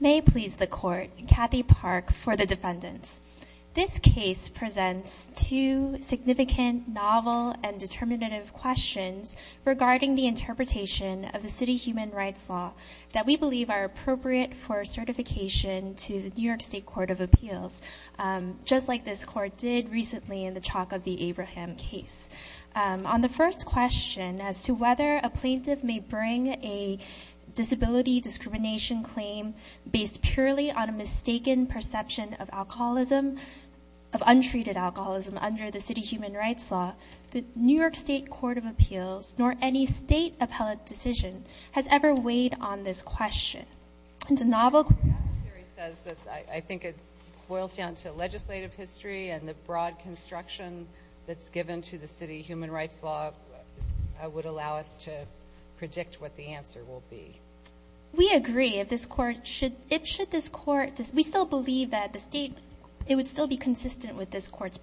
May please the court. Kathy Park for the defendants. This case presents two significant, novel, and determinative questions regarding the interpretation of the city human rights law that we believe are appropriate for certification to the New York State Court of Appeals, just like this court did recently in the Chalk of the Abraham case. On the first question as to whether a plaintiff may bring a disability discrimination claim based purely on a mistaken perception of alcoholism, of untreated alcoholism, under the city human rights law, the New York State Court of Appeals, nor any state appellate decision, has ever weighed on this question. The novel theory says that I think it boils down to legislative history and the broad construction that's given to the city human rights law would allow us to predict what the answer will be. We agree if this court should, if should this court, we still believe that the state, it would still be consistent with this court's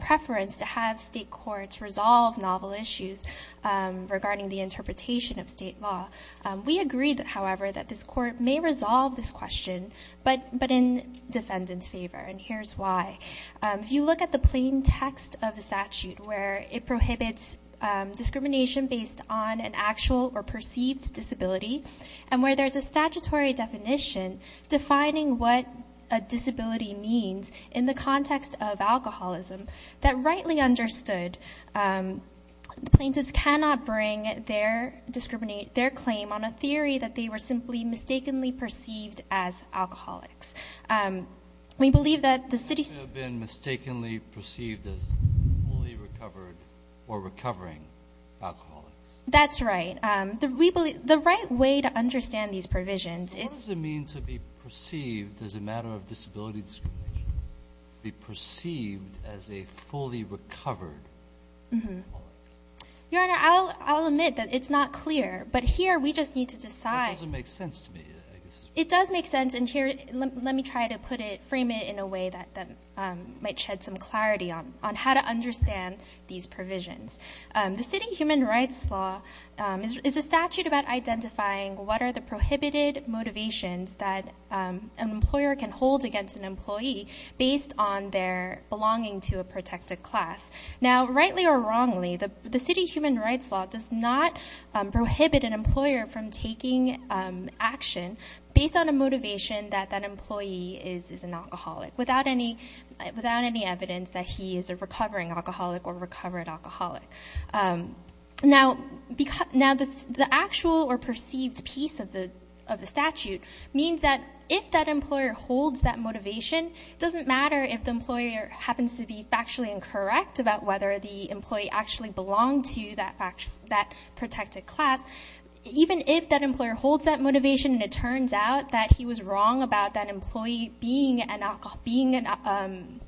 preference to have state courts resolve novel issues regarding the interpretation of state law. We agree that however that this court may resolve this question but but in defendants favor and here's why. If you look at the plain text of the statute where it prohibits discrimination based on an actual or perceived disability and where there's a statutory definition defining what a disability means in the context of alcoholism that rightly understood, plaintiffs cannot bring their discriminate, their claim on a theory that they were simply mistakenly as alcoholics. We believe that the city has been mistakenly perceived as fully recovered or recovering alcoholics. That's right. We believe the right way to understand these provisions is. What does it mean to be perceived as a matter of disability discrimination? To be perceived as a fully recovered alcoholic? Your Honor, I'll admit that it's not clear but here we just need to decide. It doesn't make sense to me. It does make sense and here let me try to put it frame it in a way that might shed some clarity on on how to understand these provisions. The city human rights law is a statute about identifying what are the prohibited motivations that an employer can hold against an employee based on their belonging to a protected class. Now rightly or wrongly the the city human rights law does not prohibit an employer from taking action based on a motivation that that employee is is an alcoholic without any without any evidence that he is a recovering alcoholic or recovered alcoholic. Now because now this the actual or perceived piece of the of the statute means that if that employer holds that motivation doesn't matter if the employer happens to be factually incorrect about whether the employee actually belonged to that protected class. Even if that employer holds that motivation and it turns out that he was wrong about that employee being an alcohol being an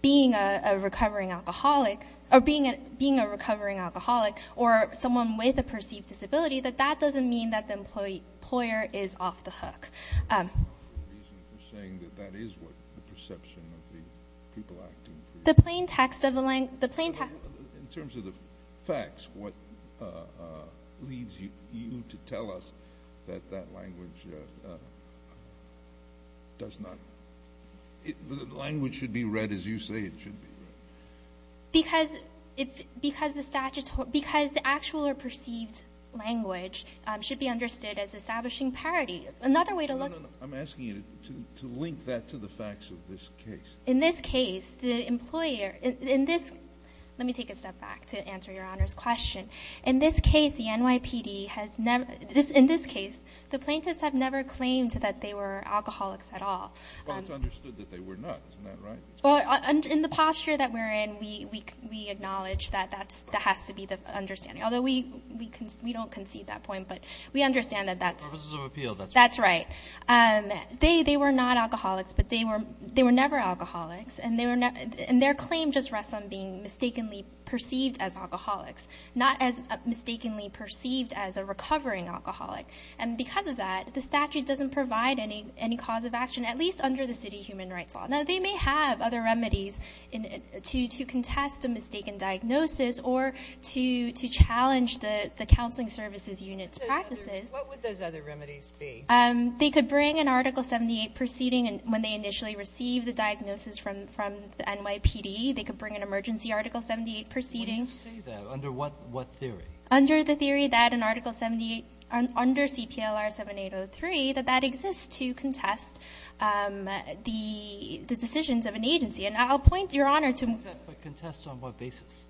being a recovering alcoholic or being a being a recovering alcoholic or someone with a perceived disability that that doesn't mean that the employee employer is off the hook. In terms of the facts what leads you to tell us that that language does not the language should be read as you say it should be. Because if because the statute because the actual or perceived language should be understood as establishing parity. Another way to look I'm asking you to link that to the facts of this case. In this case the employer in this let me take a step back to answer your honor's question. In this case the NYPD has never this in this case the plaintiffs have never claimed that they were alcoholics at all. In the posture that we're in we we acknowledge that that's that has to be the understanding although we we can we don't concede that point but we understand that that's that's right. They they were not alcoholics but they were they were never alcoholics and they were not and their claim just rests on being mistakenly perceived as alcoholics not as mistakenly perceived as a recovering alcoholic. And because of that the statute doesn't provide any any cause of action at least under the city human rights law. Now they may have other remedies in it to to contest a mistaken diagnosis or to to challenge the the counseling services units practices. They could bring an article 78 proceeding and when they initially receive the diagnosis from from the NYPD they could bring an emergency article 78 proceeding. Under what what theory? Under the theory that an article 78 under CPLR 7803 that that exists to contest the the decisions of an agency and I'll point your honor to. Contest on what basis?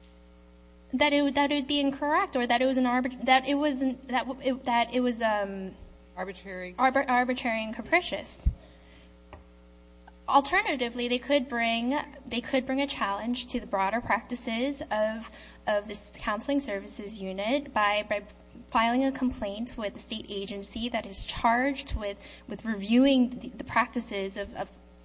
That it would that it was an arbit that it wasn't that that it was a arbitrary arbitrary and capricious. Alternatively they could bring they could bring a challenge to the broader practices of of this counseling services unit by filing a complaint with the state agency that is charged with with reviewing the practices of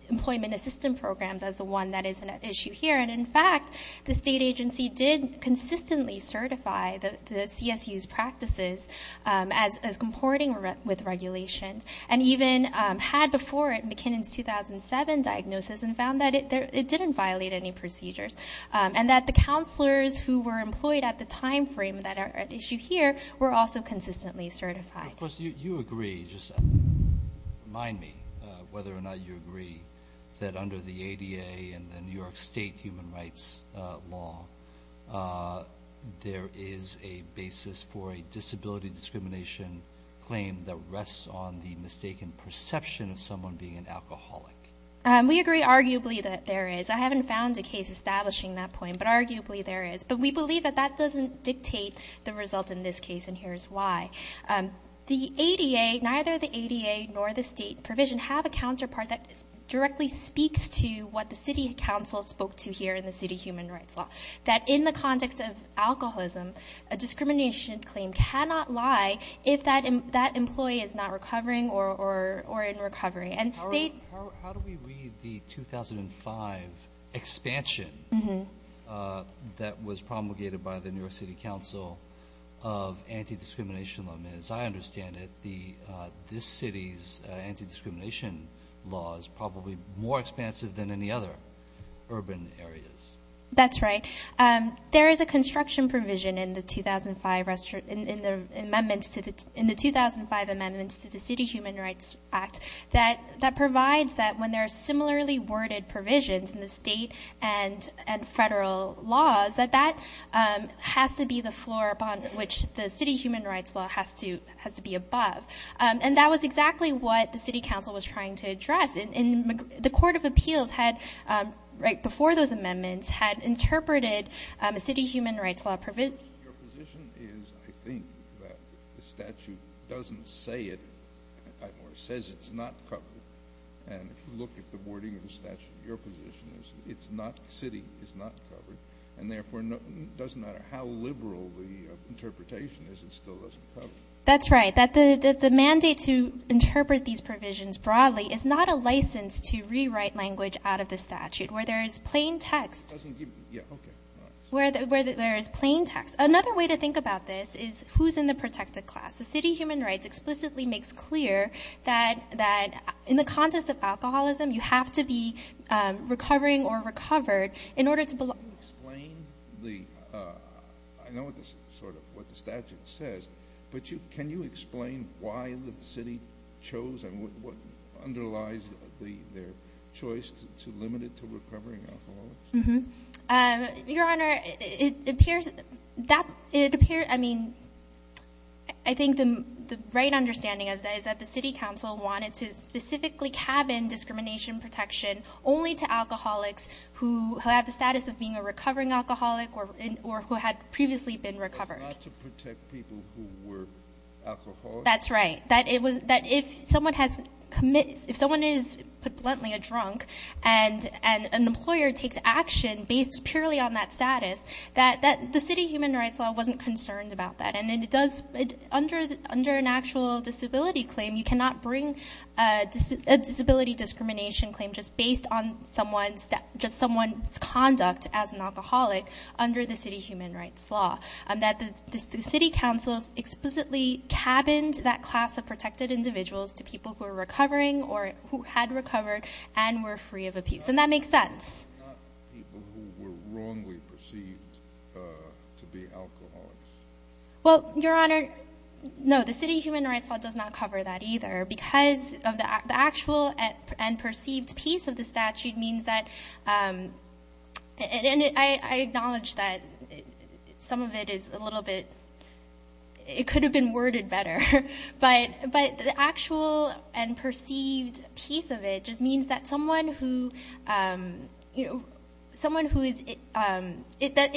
employment assistance programs as the one that is an issue here and in fact the state agency did consistently certify the CSU's practices as comporting with regulations and even had before it McKinnon's 2007 diagnosis and found that it didn't violate any procedures and that the counselors who were employed at the time frame that are at issue here were also consistently certified. Of course you agree just mind me whether or not you agree that under the law there is a basis for a disability discrimination claim that rests on the mistaken perception of someone being an alcoholic. We agree arguably that there is I haven't found a case establishing that point but arguably there is but we believe that that doesn't dictate the result in this case and here's why. The ADA neither the ADA nor the state provision have a counterpart that in the city human rights law. That in the context of alcoholism a discrimination claim cannot lie if that in that employee is not recovering or or or in recovery. How do we read the 2005 expansion that was promulgated by the New York City Council of anti-discrimination law? As I understand it the this city's anti-discrimination law is probably more expansive than any other urban areas. That's right there is a construction provision in the 2005 restaurant in the amendments to the in the 2005 amendments to the City Human Rights Act that that provides that when there are similarly worded provisions in the state and and federal laws that that has to be the floor upon which the city human rights law has to has to be above and that was exactly what the City was trying to address in the Court of Appeals had right before those amendments had interpreted a city human rights law provision. Your position is I think that the statute doesn't say it or says it's not covered and if you look at the wording of the statute your position is it's not the city is not covered and therefore doesn't matter how liberal the interpretation is it still doesn't cover it. That's right that the mandate to interpret these provisions broadly is not a license to rewrite language out of the statute where there is plain text where there is plain text. Another way to think about this is who's in the protected class? The City Human Rights explicitly makes clear that that in the context of alcoholism you have to be recovering or recovered in order to belong. Can you explain what the statute says but you can you explain why the city chose and what underlies their choice to limit it to recovering alcoholics? Your Honor it appears that it appears I mean I think the right understanding of that is that the City Council wanted to specifically cabin discrimination protection only to alcoholics who have the status of being a recovering alcoholic or who had previously been recovered. That's not to protect people who were alcoholics. That's right that if someone is bluntly a drunk and an employer takes action based purely on that status that the City Human Rights Law wasn't concerned about that and it does under an actual disability claim you cannot bring a disability discrimination claim just based on someone's conduct as an alcoholic under the City Human Rights Law. The City Council explicitly cabined that class of protected individuals to people who are recovering or who had recovered and were free of abuse and that makes sense. But not people who were wrongly perceived to be alcoholics? It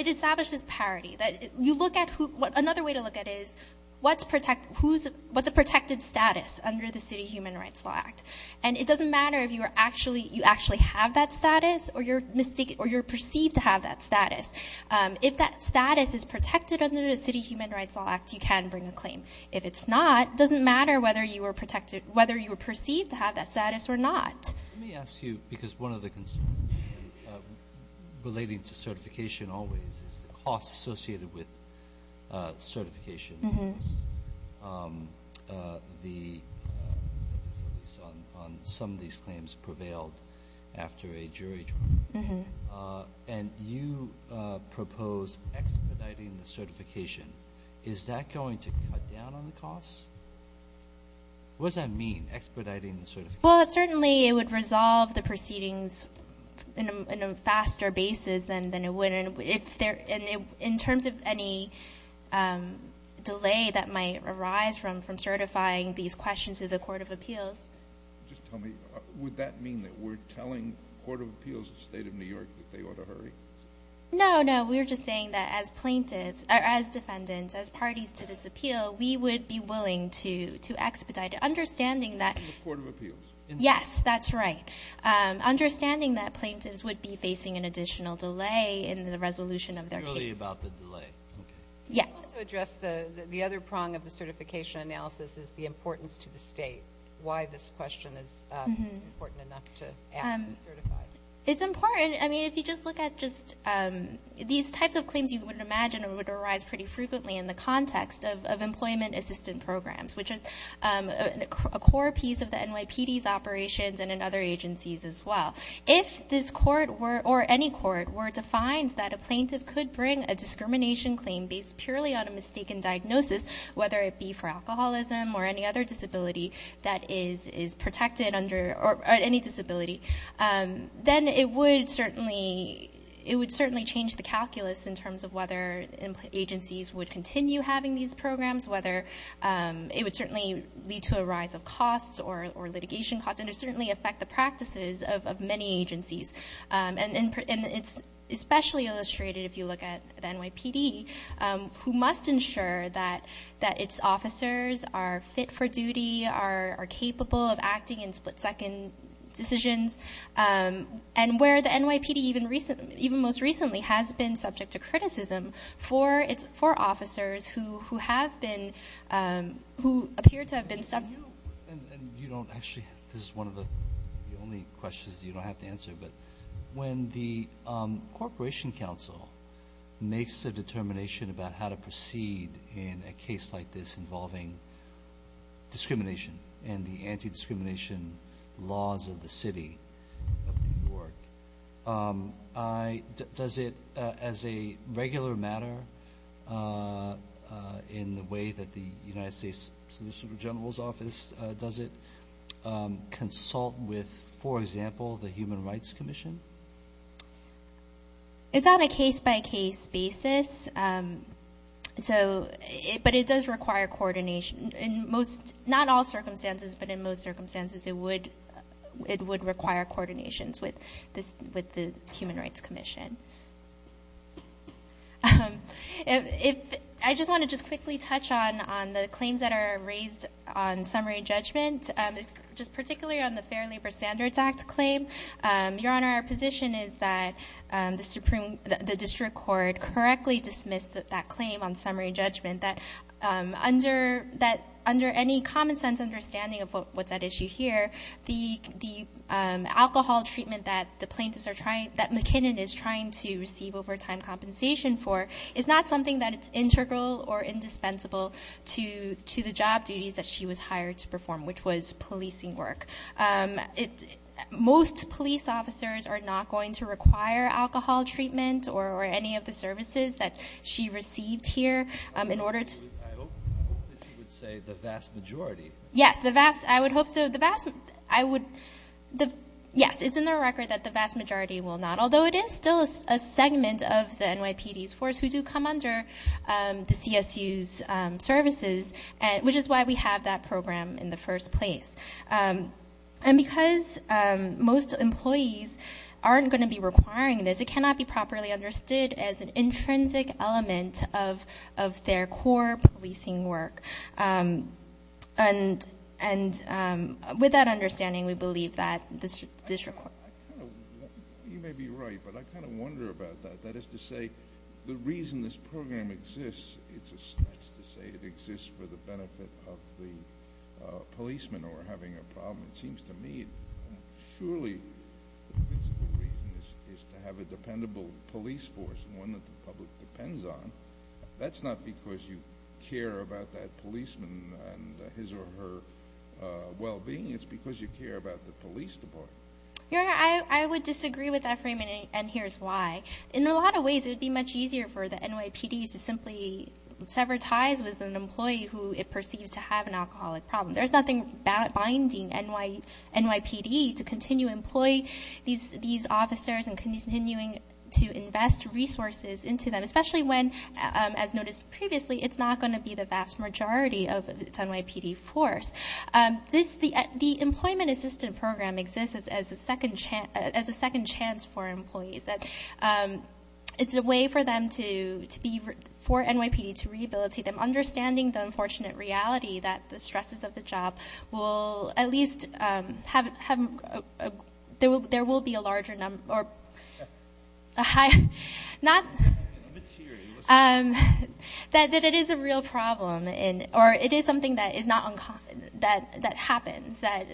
establishes parity. Another way to look at it is what's a protected status under the City Human Rights Law Act and it doesn't matter if you actually have that status or you're perceived to have that status. If that status is protected under the City Human Rights Law Act you can bring a claim. If it's not it doesn't matter whether you were perceived to have that status or not. Let me ask you because one of the concerns relating to certification always is the costs associated with certification. Some of these claims prevailed after a jury trial and you propose expediting the certification. Is that going to cut down on the costs? What does that mean expediting the certification? Well certainly it would resolve the proceedings in a faster basis than it would in terms of any delay that might arise from certifying these questions to the Court of Appeals. Just tell me, would that mean that we're telling the Court of Appeals of the State of New York that they ought to hurry? No, no. We're just saying that as plaintiffs, as defendants, as parties to this appeal, we would be willing to expedite it. Understanding that plaintiffs would be facing an additional delay in the resolution of their case. Can you also address the other prong of the certification analysis is the importance to the state. Why this question is important enough to ask to certify? It's important. I mean if you just look at just these types of claims you would imagine would arise pretty frequently in the context of employment assistant programs, which is a core piece of the NYPD's operations and in other agencies as well. If this court were, or any court, were to find that a plaintiff could bring a discrimination claim based purely on a mistaken diagnosis, whether it be for alcoholism or any other disability that is protected under, or any disability, then it would certainly change the calculus in terms of whether agencies would continue having these programs, whether it would certainly lead to a rise of costs or litigation costs, and it would certainly affect the practices of many agencies. And it's especially illustrated if you look at the NYPD, who must ensure that its officers are fit for duty, are capable of acting in split-second decisions, and where the NYPD even most recently has been subject to criticism for officers who have been, who appear to have been subject. This is one of the only questions you don't have to answer, but when the Corporation Council makes a determination about how to proceed in a case like this involving discrimination and the anti-discrimination laws of the city of New York, does it, as a regular matter, in the way that the United States Solicitor General's office does it, consult with, for example, the Human Rights Commission? It's on a case-by-case basis, but it does require coordination. In most, not all circumstances, but in most circumstances, it would require coordinations with the Human Rights Commission. I just want to just quickly touch on the claims that are raised on summary judgment, just particularly on the Fair Labor Standards Act claim. Your Honor, our position is that the district court correctly dismissed that claim on summary judgment, that under any common-sense understanding of what's at issue here, the alcohol treatment that McKinnon is trying to receive overtime compensation for is not something that is integral or indispensable to the job duties that she was hired to perform, which was policing work. Most police officers are not going to require alcohol treatment or any of the services that she received here. I hope that you would say the vast majority. Yes, I would hope so. Yes, it's in the record that the vast majority will not, although it is still a segment of the NYPD's force who do come under the CSU's services, which is why we have that program in the first place. And because most employees aren't going to be requiring this, it cannot be properly understood as an intrinsic element of their core policing work. And with that understanding, we believe that the district court… You may be right, but I kind of wonder about that. That is to say, the reason this program exists, it's a stretch to say it exists for the benefit of the policeman or having a problem. It seems to me, surely the principal reason is to have a dependable police force, one that the public depends on. That's not because you care about that policeman and his or her well-being, it's because you care about the police department. Your Honor, I would disagree with that framing, and here's why. In a lot of ways, it would be much easier for the NYPD to simply sever ties with an employee who it perceives to have an alcoholic problem. There's nothing binding NYPD to continue employing these officers and continuing to invest resources into them, especially when, as noticed previously, it's not going to be the vast majority of its NYPD force. The Employment Assistance Program exists as a second chance for employees. It's a way for NYPD to rehabilitate them, understanding the unfortunate reality that the stresses of the job will at least have… I'm a bit teary. …that it is a real problem, or it is something that happens, that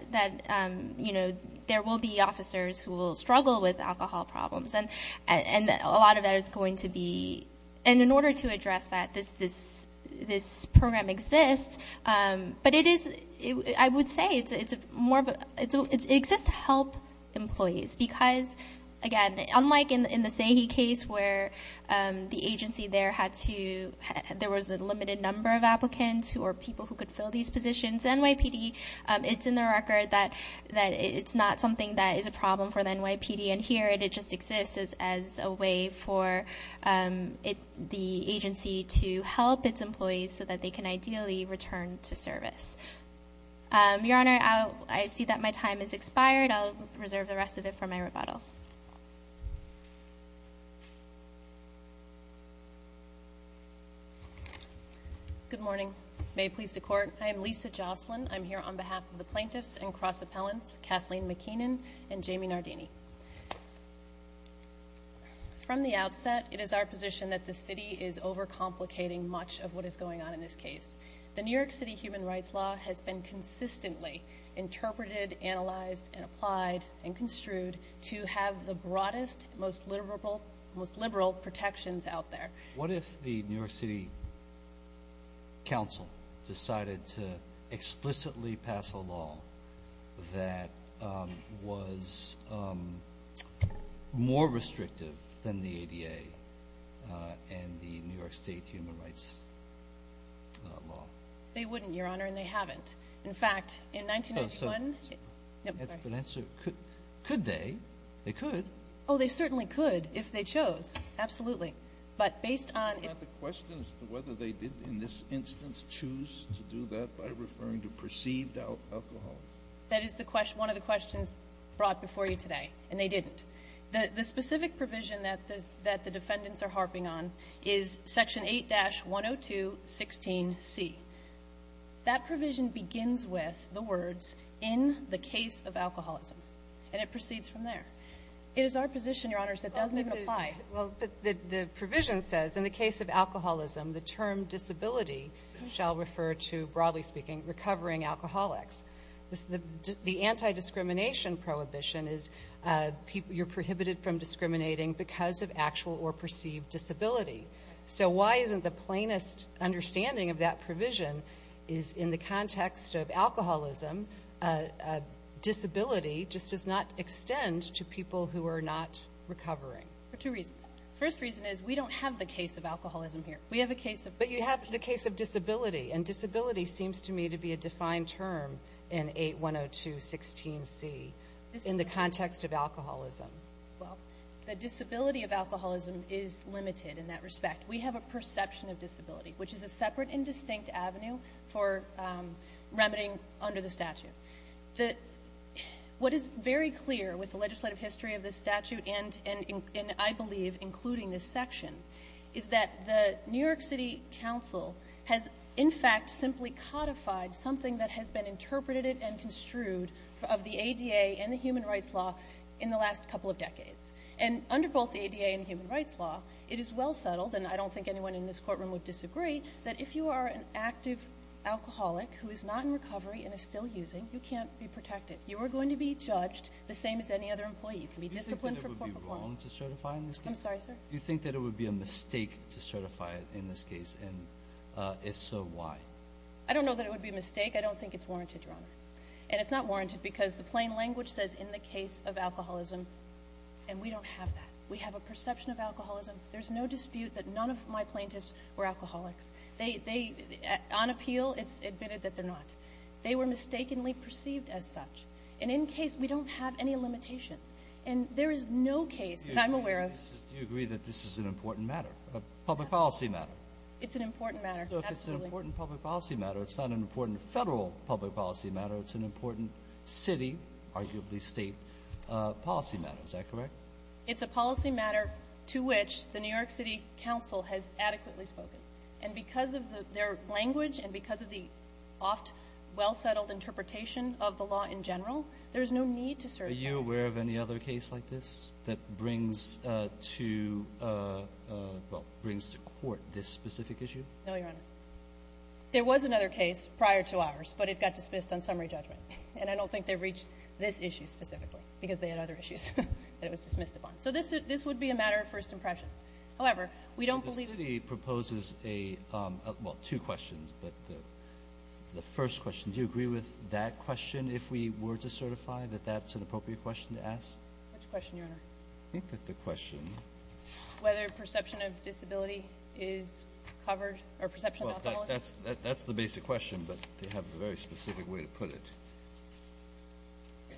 there will be officers who will struggle with alcohol problems, and a lot of that is going to be… In order to address that, this program exists, but it is… I would say it exists to help employees because, again, unlike in the Sahe case where the agency there had to… there was a limited number of applicants or people who could fill these positions, it's in the record that it's not something that is a problem for the NYPD, and here it just exists as a way for the agency to help its employees so that they can ideally return to service. Your Honor, I see that my time has expired. I'll reserve the rest of it for my rebuttal. Good morning. May it please the Court. Good morning. I'm Lisa Jocelyn. I'm here on behalf of the plaintiffs and cross-appellants Kathleen McKeenan and Jamie Nardini. From the outset, it is our position that the city is overcomplicating much of what is going on in this case. The New York City human rights law has been consistently interpreted, analyzed, and applied and construed to have the broadest, most liberal protections out there. What if the New York City Council decided to explicitly pass a law that was more restrictive than the ADA and the New York State human rights law? They wouldn't, Your Honor, and they haven't. In fact, in 1991… Could they? They could. Oh, they certainly could if they chose, absolutely. But based on… Isn't that the question as to whether they did, in this instance, choose to do that by referring to perceived alcoholism? That is the question, one of the questions brought before you today, and they didn't. The specific provision that the defendants are harping on is Section 8-102.16c. That provision begins with the words, in the case of alcoholism, and it proceeds from there. It is our position, Your Honor, that it doesn't even apply. Well, the provision says, in the case of alcoholism, the term disability shall refer to, broadly speaking, recovering alcoholics. The anti-discrimination prohibition is you're prohibited from discriminating because of actual or perceived disability. So why isn't the plainest understanding of that provision is in the context of alcoholism, disability just does not extend to people who are not recovering? For two reasons. The first reason is we don't have the case of alcoholism here. We have a case of… But you have the case of disability, and disability seems to me to be a defined term in 8-102.16c in the context of alcoholism. Well, the disability of alcoholism is limited in that respect. We have a perception of disability, which is a separate and distinct avenue for remedying under the statute. What is very clear with the legislative history of this statute and, I believe, including this section, is that the New York City Council has, in fact, simply codified something that has been interpreted and construed of the ADA and the human rights law in the last couple of decades. And under both the ADA and the human rights law, it is well settled, and I don't think anyone in this courtroom would disagree, that if you are an active alcoholic who is not in recovery and is still using, you can't be protected. You are going to be judged the same as any other employee. You can be disciplined for poor performance. Do you think that it would be wrong to certify in this case? I'm sorry, sir? Do you think that it would be a mistake to certify in this case, and if so, why? I don't know that it would be a mistake. I don't think it's warranted, Your Honor. And it's not warranted because the plain language says, in the case of alcoholism, and we don't have that. We have a perception of alcoholism. There's no dispute that none of my plaintiffs were alcoholics. On appeal, it's admitted that they're not. They were mistakenly perceived as such. And in case, we don't have any limitations. And there is no case that I'm aware of. Do you agree that this is an important matter, a public policy matter? It's an important matter. Absolutely. So if it's an important public policy matter, it's not an important federal public policy matter. It's an important city, arguably state, policy matter. Is that correct? It's a policy matter to which the New York City Council has adequately spoken. And because of their language and because of the oft well-settled interpretation of the law in general, there is no need to certify. Are you aware of any other case like this that brings to court this specific issue? No, Your Honor. There was another case prior to ours, but it got dismissed on summary judgment. And I don't think they've reached this issue specifically because they had other issues that it was dismissed upon. So this would be a matter of first impression. However, we don't believe it. The city proposes two questions, but the first question, do you agree with that question, if we were to certify, that that's an appropriate question to ask? Which question, Your Honor? I think that the question. Whether perception of disability is covered or perception of alcoholism. Well, that's the basic question, but they have a very specific way to put it.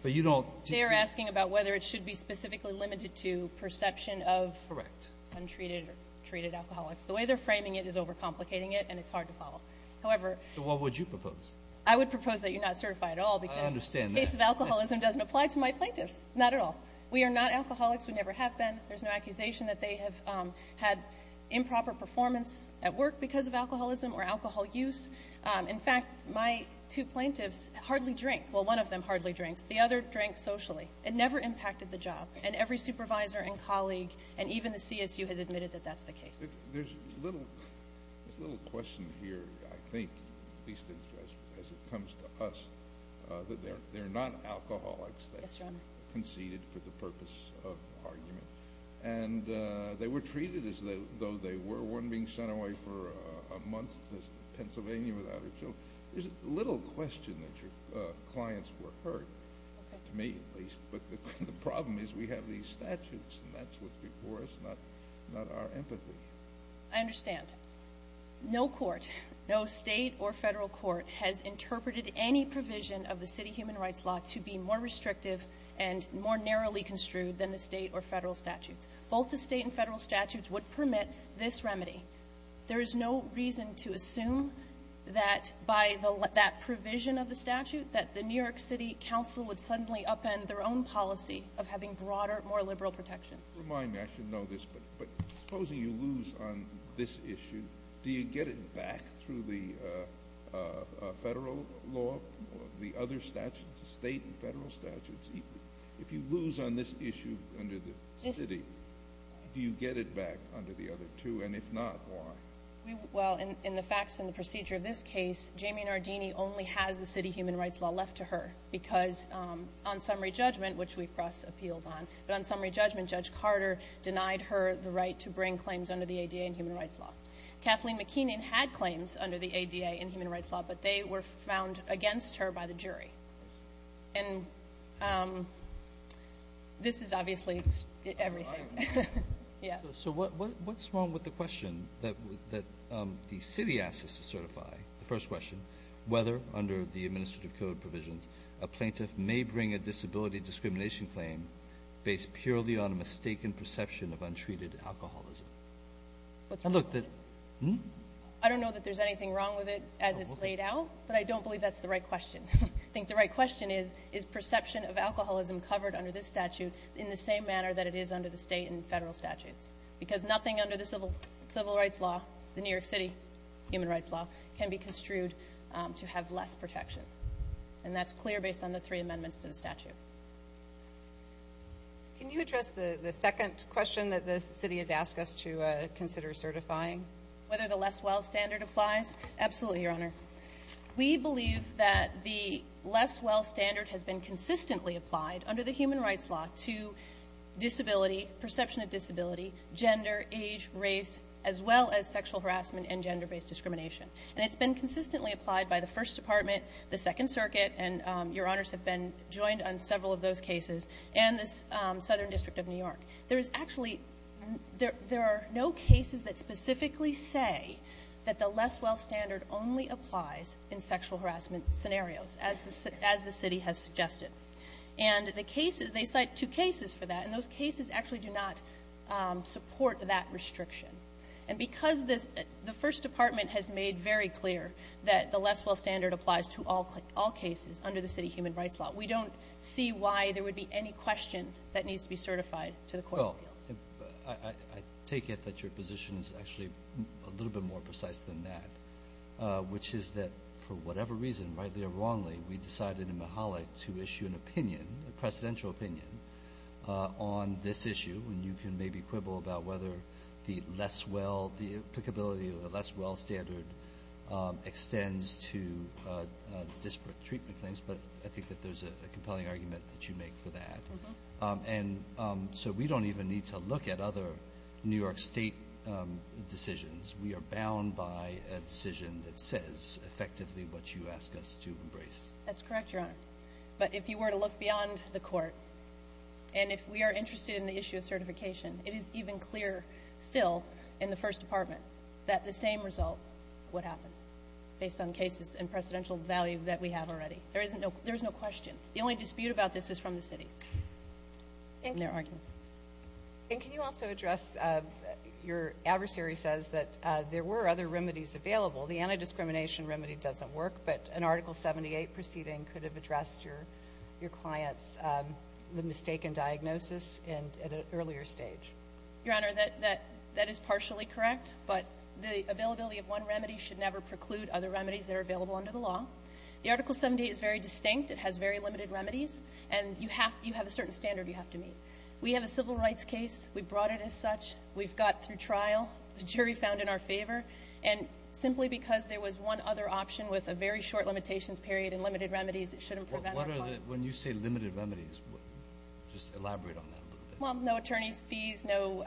But you don't. They are asking about whether it should be specifically limited to perception of. Correct. Untreated or treated alcoholics. The way they're framing it is overcomplicating it, and it's hard to follow. However. So what would you propose? I would propose that you not certify at all because. I understand that. The case of alcoholism doesn't apply to my plaintiffs, not at all. We are not alcoholics. We never have been. There's no accusation that they have had improper performance at work because of alcoholism or alcohol use. In fact, my two plaintiffs hardly drink. Well, one of them hardly drinks. The other drank socially. It never impacted the job, and every supervisor and colleague and even the CSU has admitted that that's the case. There's a little question here, I think, at least as it comes to us, that they're not alcoholics. Yes, Your Honor. That's conceded for the purpose of argument. And they were treated as though they were. One being sent away for a month to Pennsylvania without her children. There's a little question that your clients were hurt, to me at least. But the problem is we have these statutes, and that's what's before us, not our empathy. I understand. No court, no state or federal court, has interpreted any provision of the city human rights law to be more restrictive and more narrowly construed than the state or federal statutes. Both the state and federal statutes would permit this remedy. There is no reason to assume that by that provision of the statute, that the New York City Council would suddenly upend their own policy of having broader, more liberal protections. Remind me, I should know this, but supposing you lose on this issue, do you get it back through the federal law, the other statutes, the state and federal statutes? If you lose on this issue under the city, do you get it back under the other two? And if not, why? Well, in the facts and the procedure of this case, Jamie Nardini only has the city human rights law left to her because, on summary judgment, which we press appealed on, but on summary judgment Judge Carter denied her the right to bring claims under the ADA and human rights law. Kathleen McKeon had claims under the ADA and human rights law, but they were found against her by the jury. And this is obviously everything. So what's wrong with the question that the city asks us to certify, the first question, whether under the administrative code provisions a plaintiff may bring a disability discrimination claim based purely on a mistaken perception of untreated alcoholism? I don't know that there's anything wrong with it as it's laid out, but I don't believe that's the right question. I think the right question is, is perception of alcoholism covered under this statute in the same manner that it is under the state and federal statutes? Because nothing under the civil rights law, the New York City human rights law, can be construed to have less protection. And that's clear based on the three amendments to the statute. Can you address the second question that the city has asked us to consider certifying? Whether the Leswell standard applies? Absolutely, Your Honor. We believe that the Leswell standard has been consistently applied under the disability, perception of disability, gender, age, race, as well as sexual harassment and gender-based discrimination. And it's been consistently applied by the First Department, the Second Circuit, and Your Honors have been joined on several of those cases, and the Southern District of New York. There is actually, there are no cases that specifically say that the Leswell standard only applies in sexual harassment scenarios as the city has suggested. And the cases, they cite two cases for that, and those cases actually do not support that restriction. And because the First Department has made very clear that the Leswell standard applies to all cases under the city human rights law, we don't see why there would be any question that needs to be certified to the court of appeals. I take it that your position is actually a little bit more precise than that, which is that for whatever reason, rightly or wrongly, we decided in Mihalic to issue an opinion, a presidential opinion, on this issue. And you can maybe quibble about whether the Leswell, the applicability of the Leswell standard extends to disparate treatment claims, but I think that there's a compelling argument that you make for that. And so we don't even need to look at other New York State decisions. We are bound by a decision that says effectively what you ask us to embrace. That's correct, Your Honor. But if you were to look beyond the court, and if we are interested in the issue of certification, it is even clearer still in the First Department that the same result would happen based on cases and presidential value that we have already. There is no question. The only dispute about this is from the cities and their arguments. And can you also address your adversary says that there were other remedies available. The anti-discrimination remedy doesn't work, but an Article 78 proceeding could have addressed your client's mistaken diagnosis at an earlier stage. Your Honor, that is partially correct, but the availability of one remedy should never preclude other remedies that are available under the law. The Article 78 is very distinct. It has very limited remedies, and you have a certain standard you have to meet. We have a civil rights case. We brought it as such. We've got through trial. The jury found in our favor. And simply because there was one other option with a very short limitations period and limited remedies, it shouldn't prevent our clients. When you say limited remedies, just elaborate on that a little bit. Well, no attorney's fees, no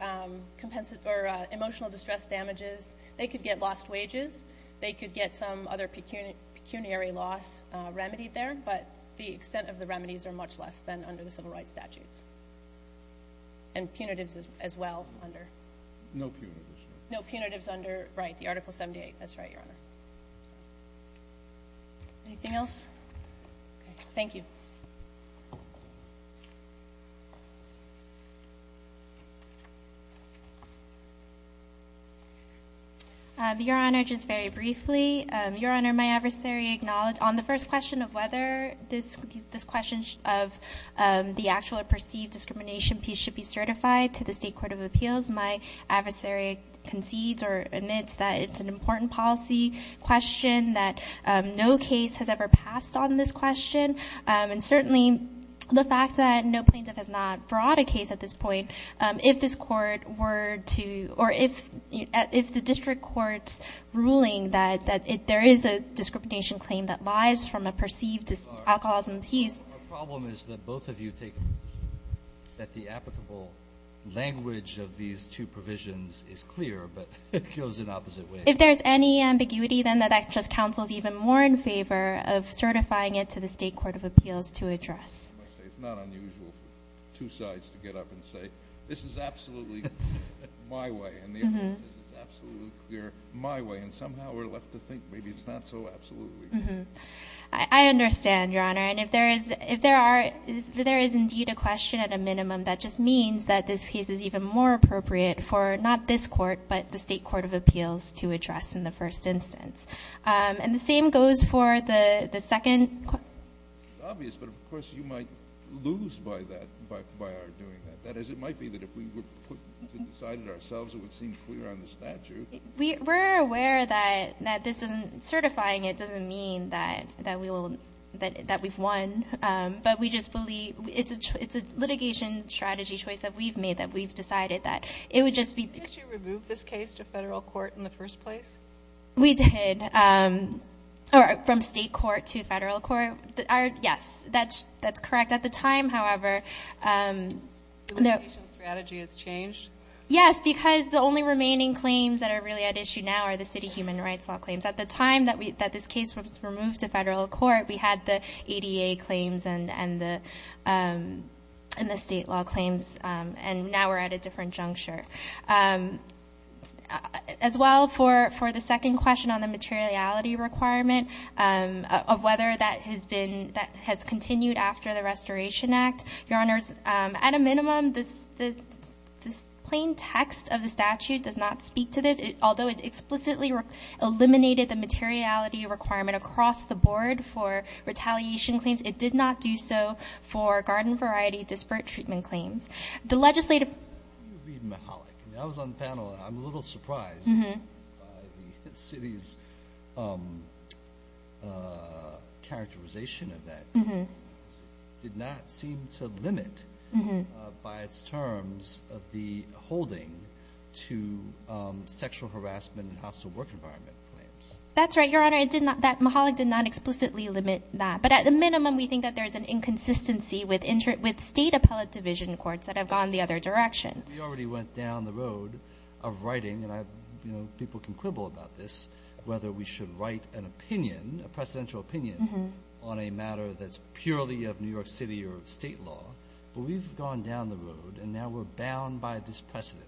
emotional distress damages. They could get lost wages. They could get some other pecuniary loss remedied there, but the extent of the remedies are much less than under the civil rights statutes. And punitives as well under. No punitives. No punitives under, right, the Article 78. That's right, Your Honor. Anything else? Okay. Thank you. Your Honor, just very briefly, Your Honor, my adversary acknowledged on the first question of whether this question of the actual or perceived discrimination piece should be certified to the State Court of Appeals, my adversary concedes or admits that it's an important policy question, that no case has ever passed on this question. And certainly the fact that no plaintiff has not brought a case at this point, if this court were to or if the district court's ruling that there is a discrimination claim that lies from a perceived alcoholism piece. Our problem is that both of you take that the applicable language of these two provisions is clear, but it goes in opposite ways. If there's any ambiguity, then that just counsels even more in favor of certifying it to the State Court of Appeals to address. It's not unusual for two sides to get up and say, this is absolutely my way and the evidence is absolutely clear my way, and somehow we're left to think maybe it's not so absolutely. I understand, Your Honor. And if there is indeed a question at a minimum, that just means that this case is even more appropriate for not this court, but the State Court of Appeals to address in the first instance. And the same goes for the second. It's obvious, but of course you might lose by our doing that. That is, it might be that if we were to decide it ourselves, it would seem clear on the statute. We're aware that certifying it doesn't mean that we've won, but we just believe it's a litigation strategy choice that we've made, that we've decided that it would just be. Did you remove this case to federal court in the first place? We did. From state court to federal court? Yes, that's correct. At the time, however, The litigation strategy has changed? Yes, because the only remaining claims that are really at issue now are the city human rights law claims. At the time that this case was removed to federal court, we had the ADA claims and the state law claims, and now we're at a different juncture. As well, for the second question on the materiality requirement, of whether that has continued after the Restoration Act, Your Honors, at a minimum, this plain text of the statute does not speak to this. Although it explicitly eliminated the materiality requirement across the board for retaliation claims, it did not do so for garden variety disparate treatment claims. When you read Mihalik, when I was on the panel, I'm a little surprised by the city's characterization of that. It did not seem to limit, by its terms, the holding to sexual harassment and hostile work environment claims. That's right, Your Honor. Mihalik did not explicitly limit that. But at the minimum, we think that there's an inconsistency with state appellate division courts that have gone the other direction. We already went down the road of writing, and people can quibble about this, whether we should write an opinion, a presidential opinion, on a matter that's purely of New York City or state law. But we've gone down the road, and now we're bound by this precedent.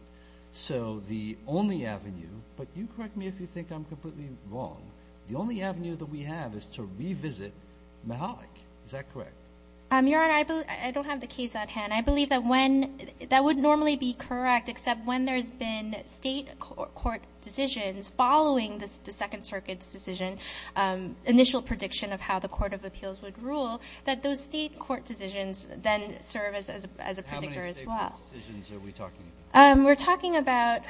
So the only avenue, but you correct me if you think I'm completely wrong, the only avenue that we have is to revisit Mihalik. Is that correct? Your Honor, I don't have the case at hand. I believe that would normally be correct, except when there's been state court decisions following the Second Circuit's decision, initial prediction of how the Court of Appeals would rule, that those state court decisions then serve as a predictor as well. How many state court decisions are we talking about? We're talking about,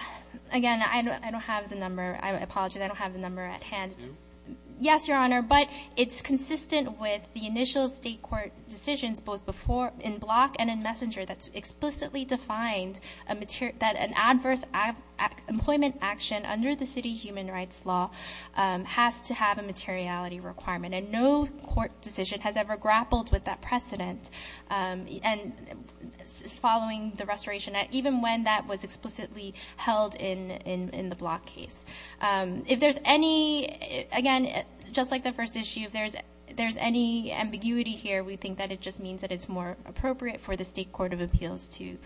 again, I don't have the number. Yes, Your Honor, but it's consistent with the initial state court decisions, both before in Block and in Messenger, that's explicitly defined that an adverse employment action under the city human rights law has to have a materiality requirement, and no court decision has ever grappled with that precedent following the restoration, even when that was explicitly held in the Block case. If there's any, again, just like the first issue, if there's any ambiguity here, we think that it just means that it's more appropriate for the State Court of Appeals to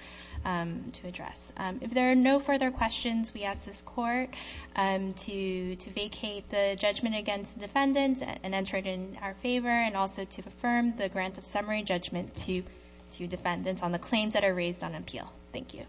address. If there are no further questions, we ask this Court to vacate the judgment against defendants and enter it in our favor, and also to affirm the grant of summary judgment to defendants on the claims that are raised on appeal. Thank you.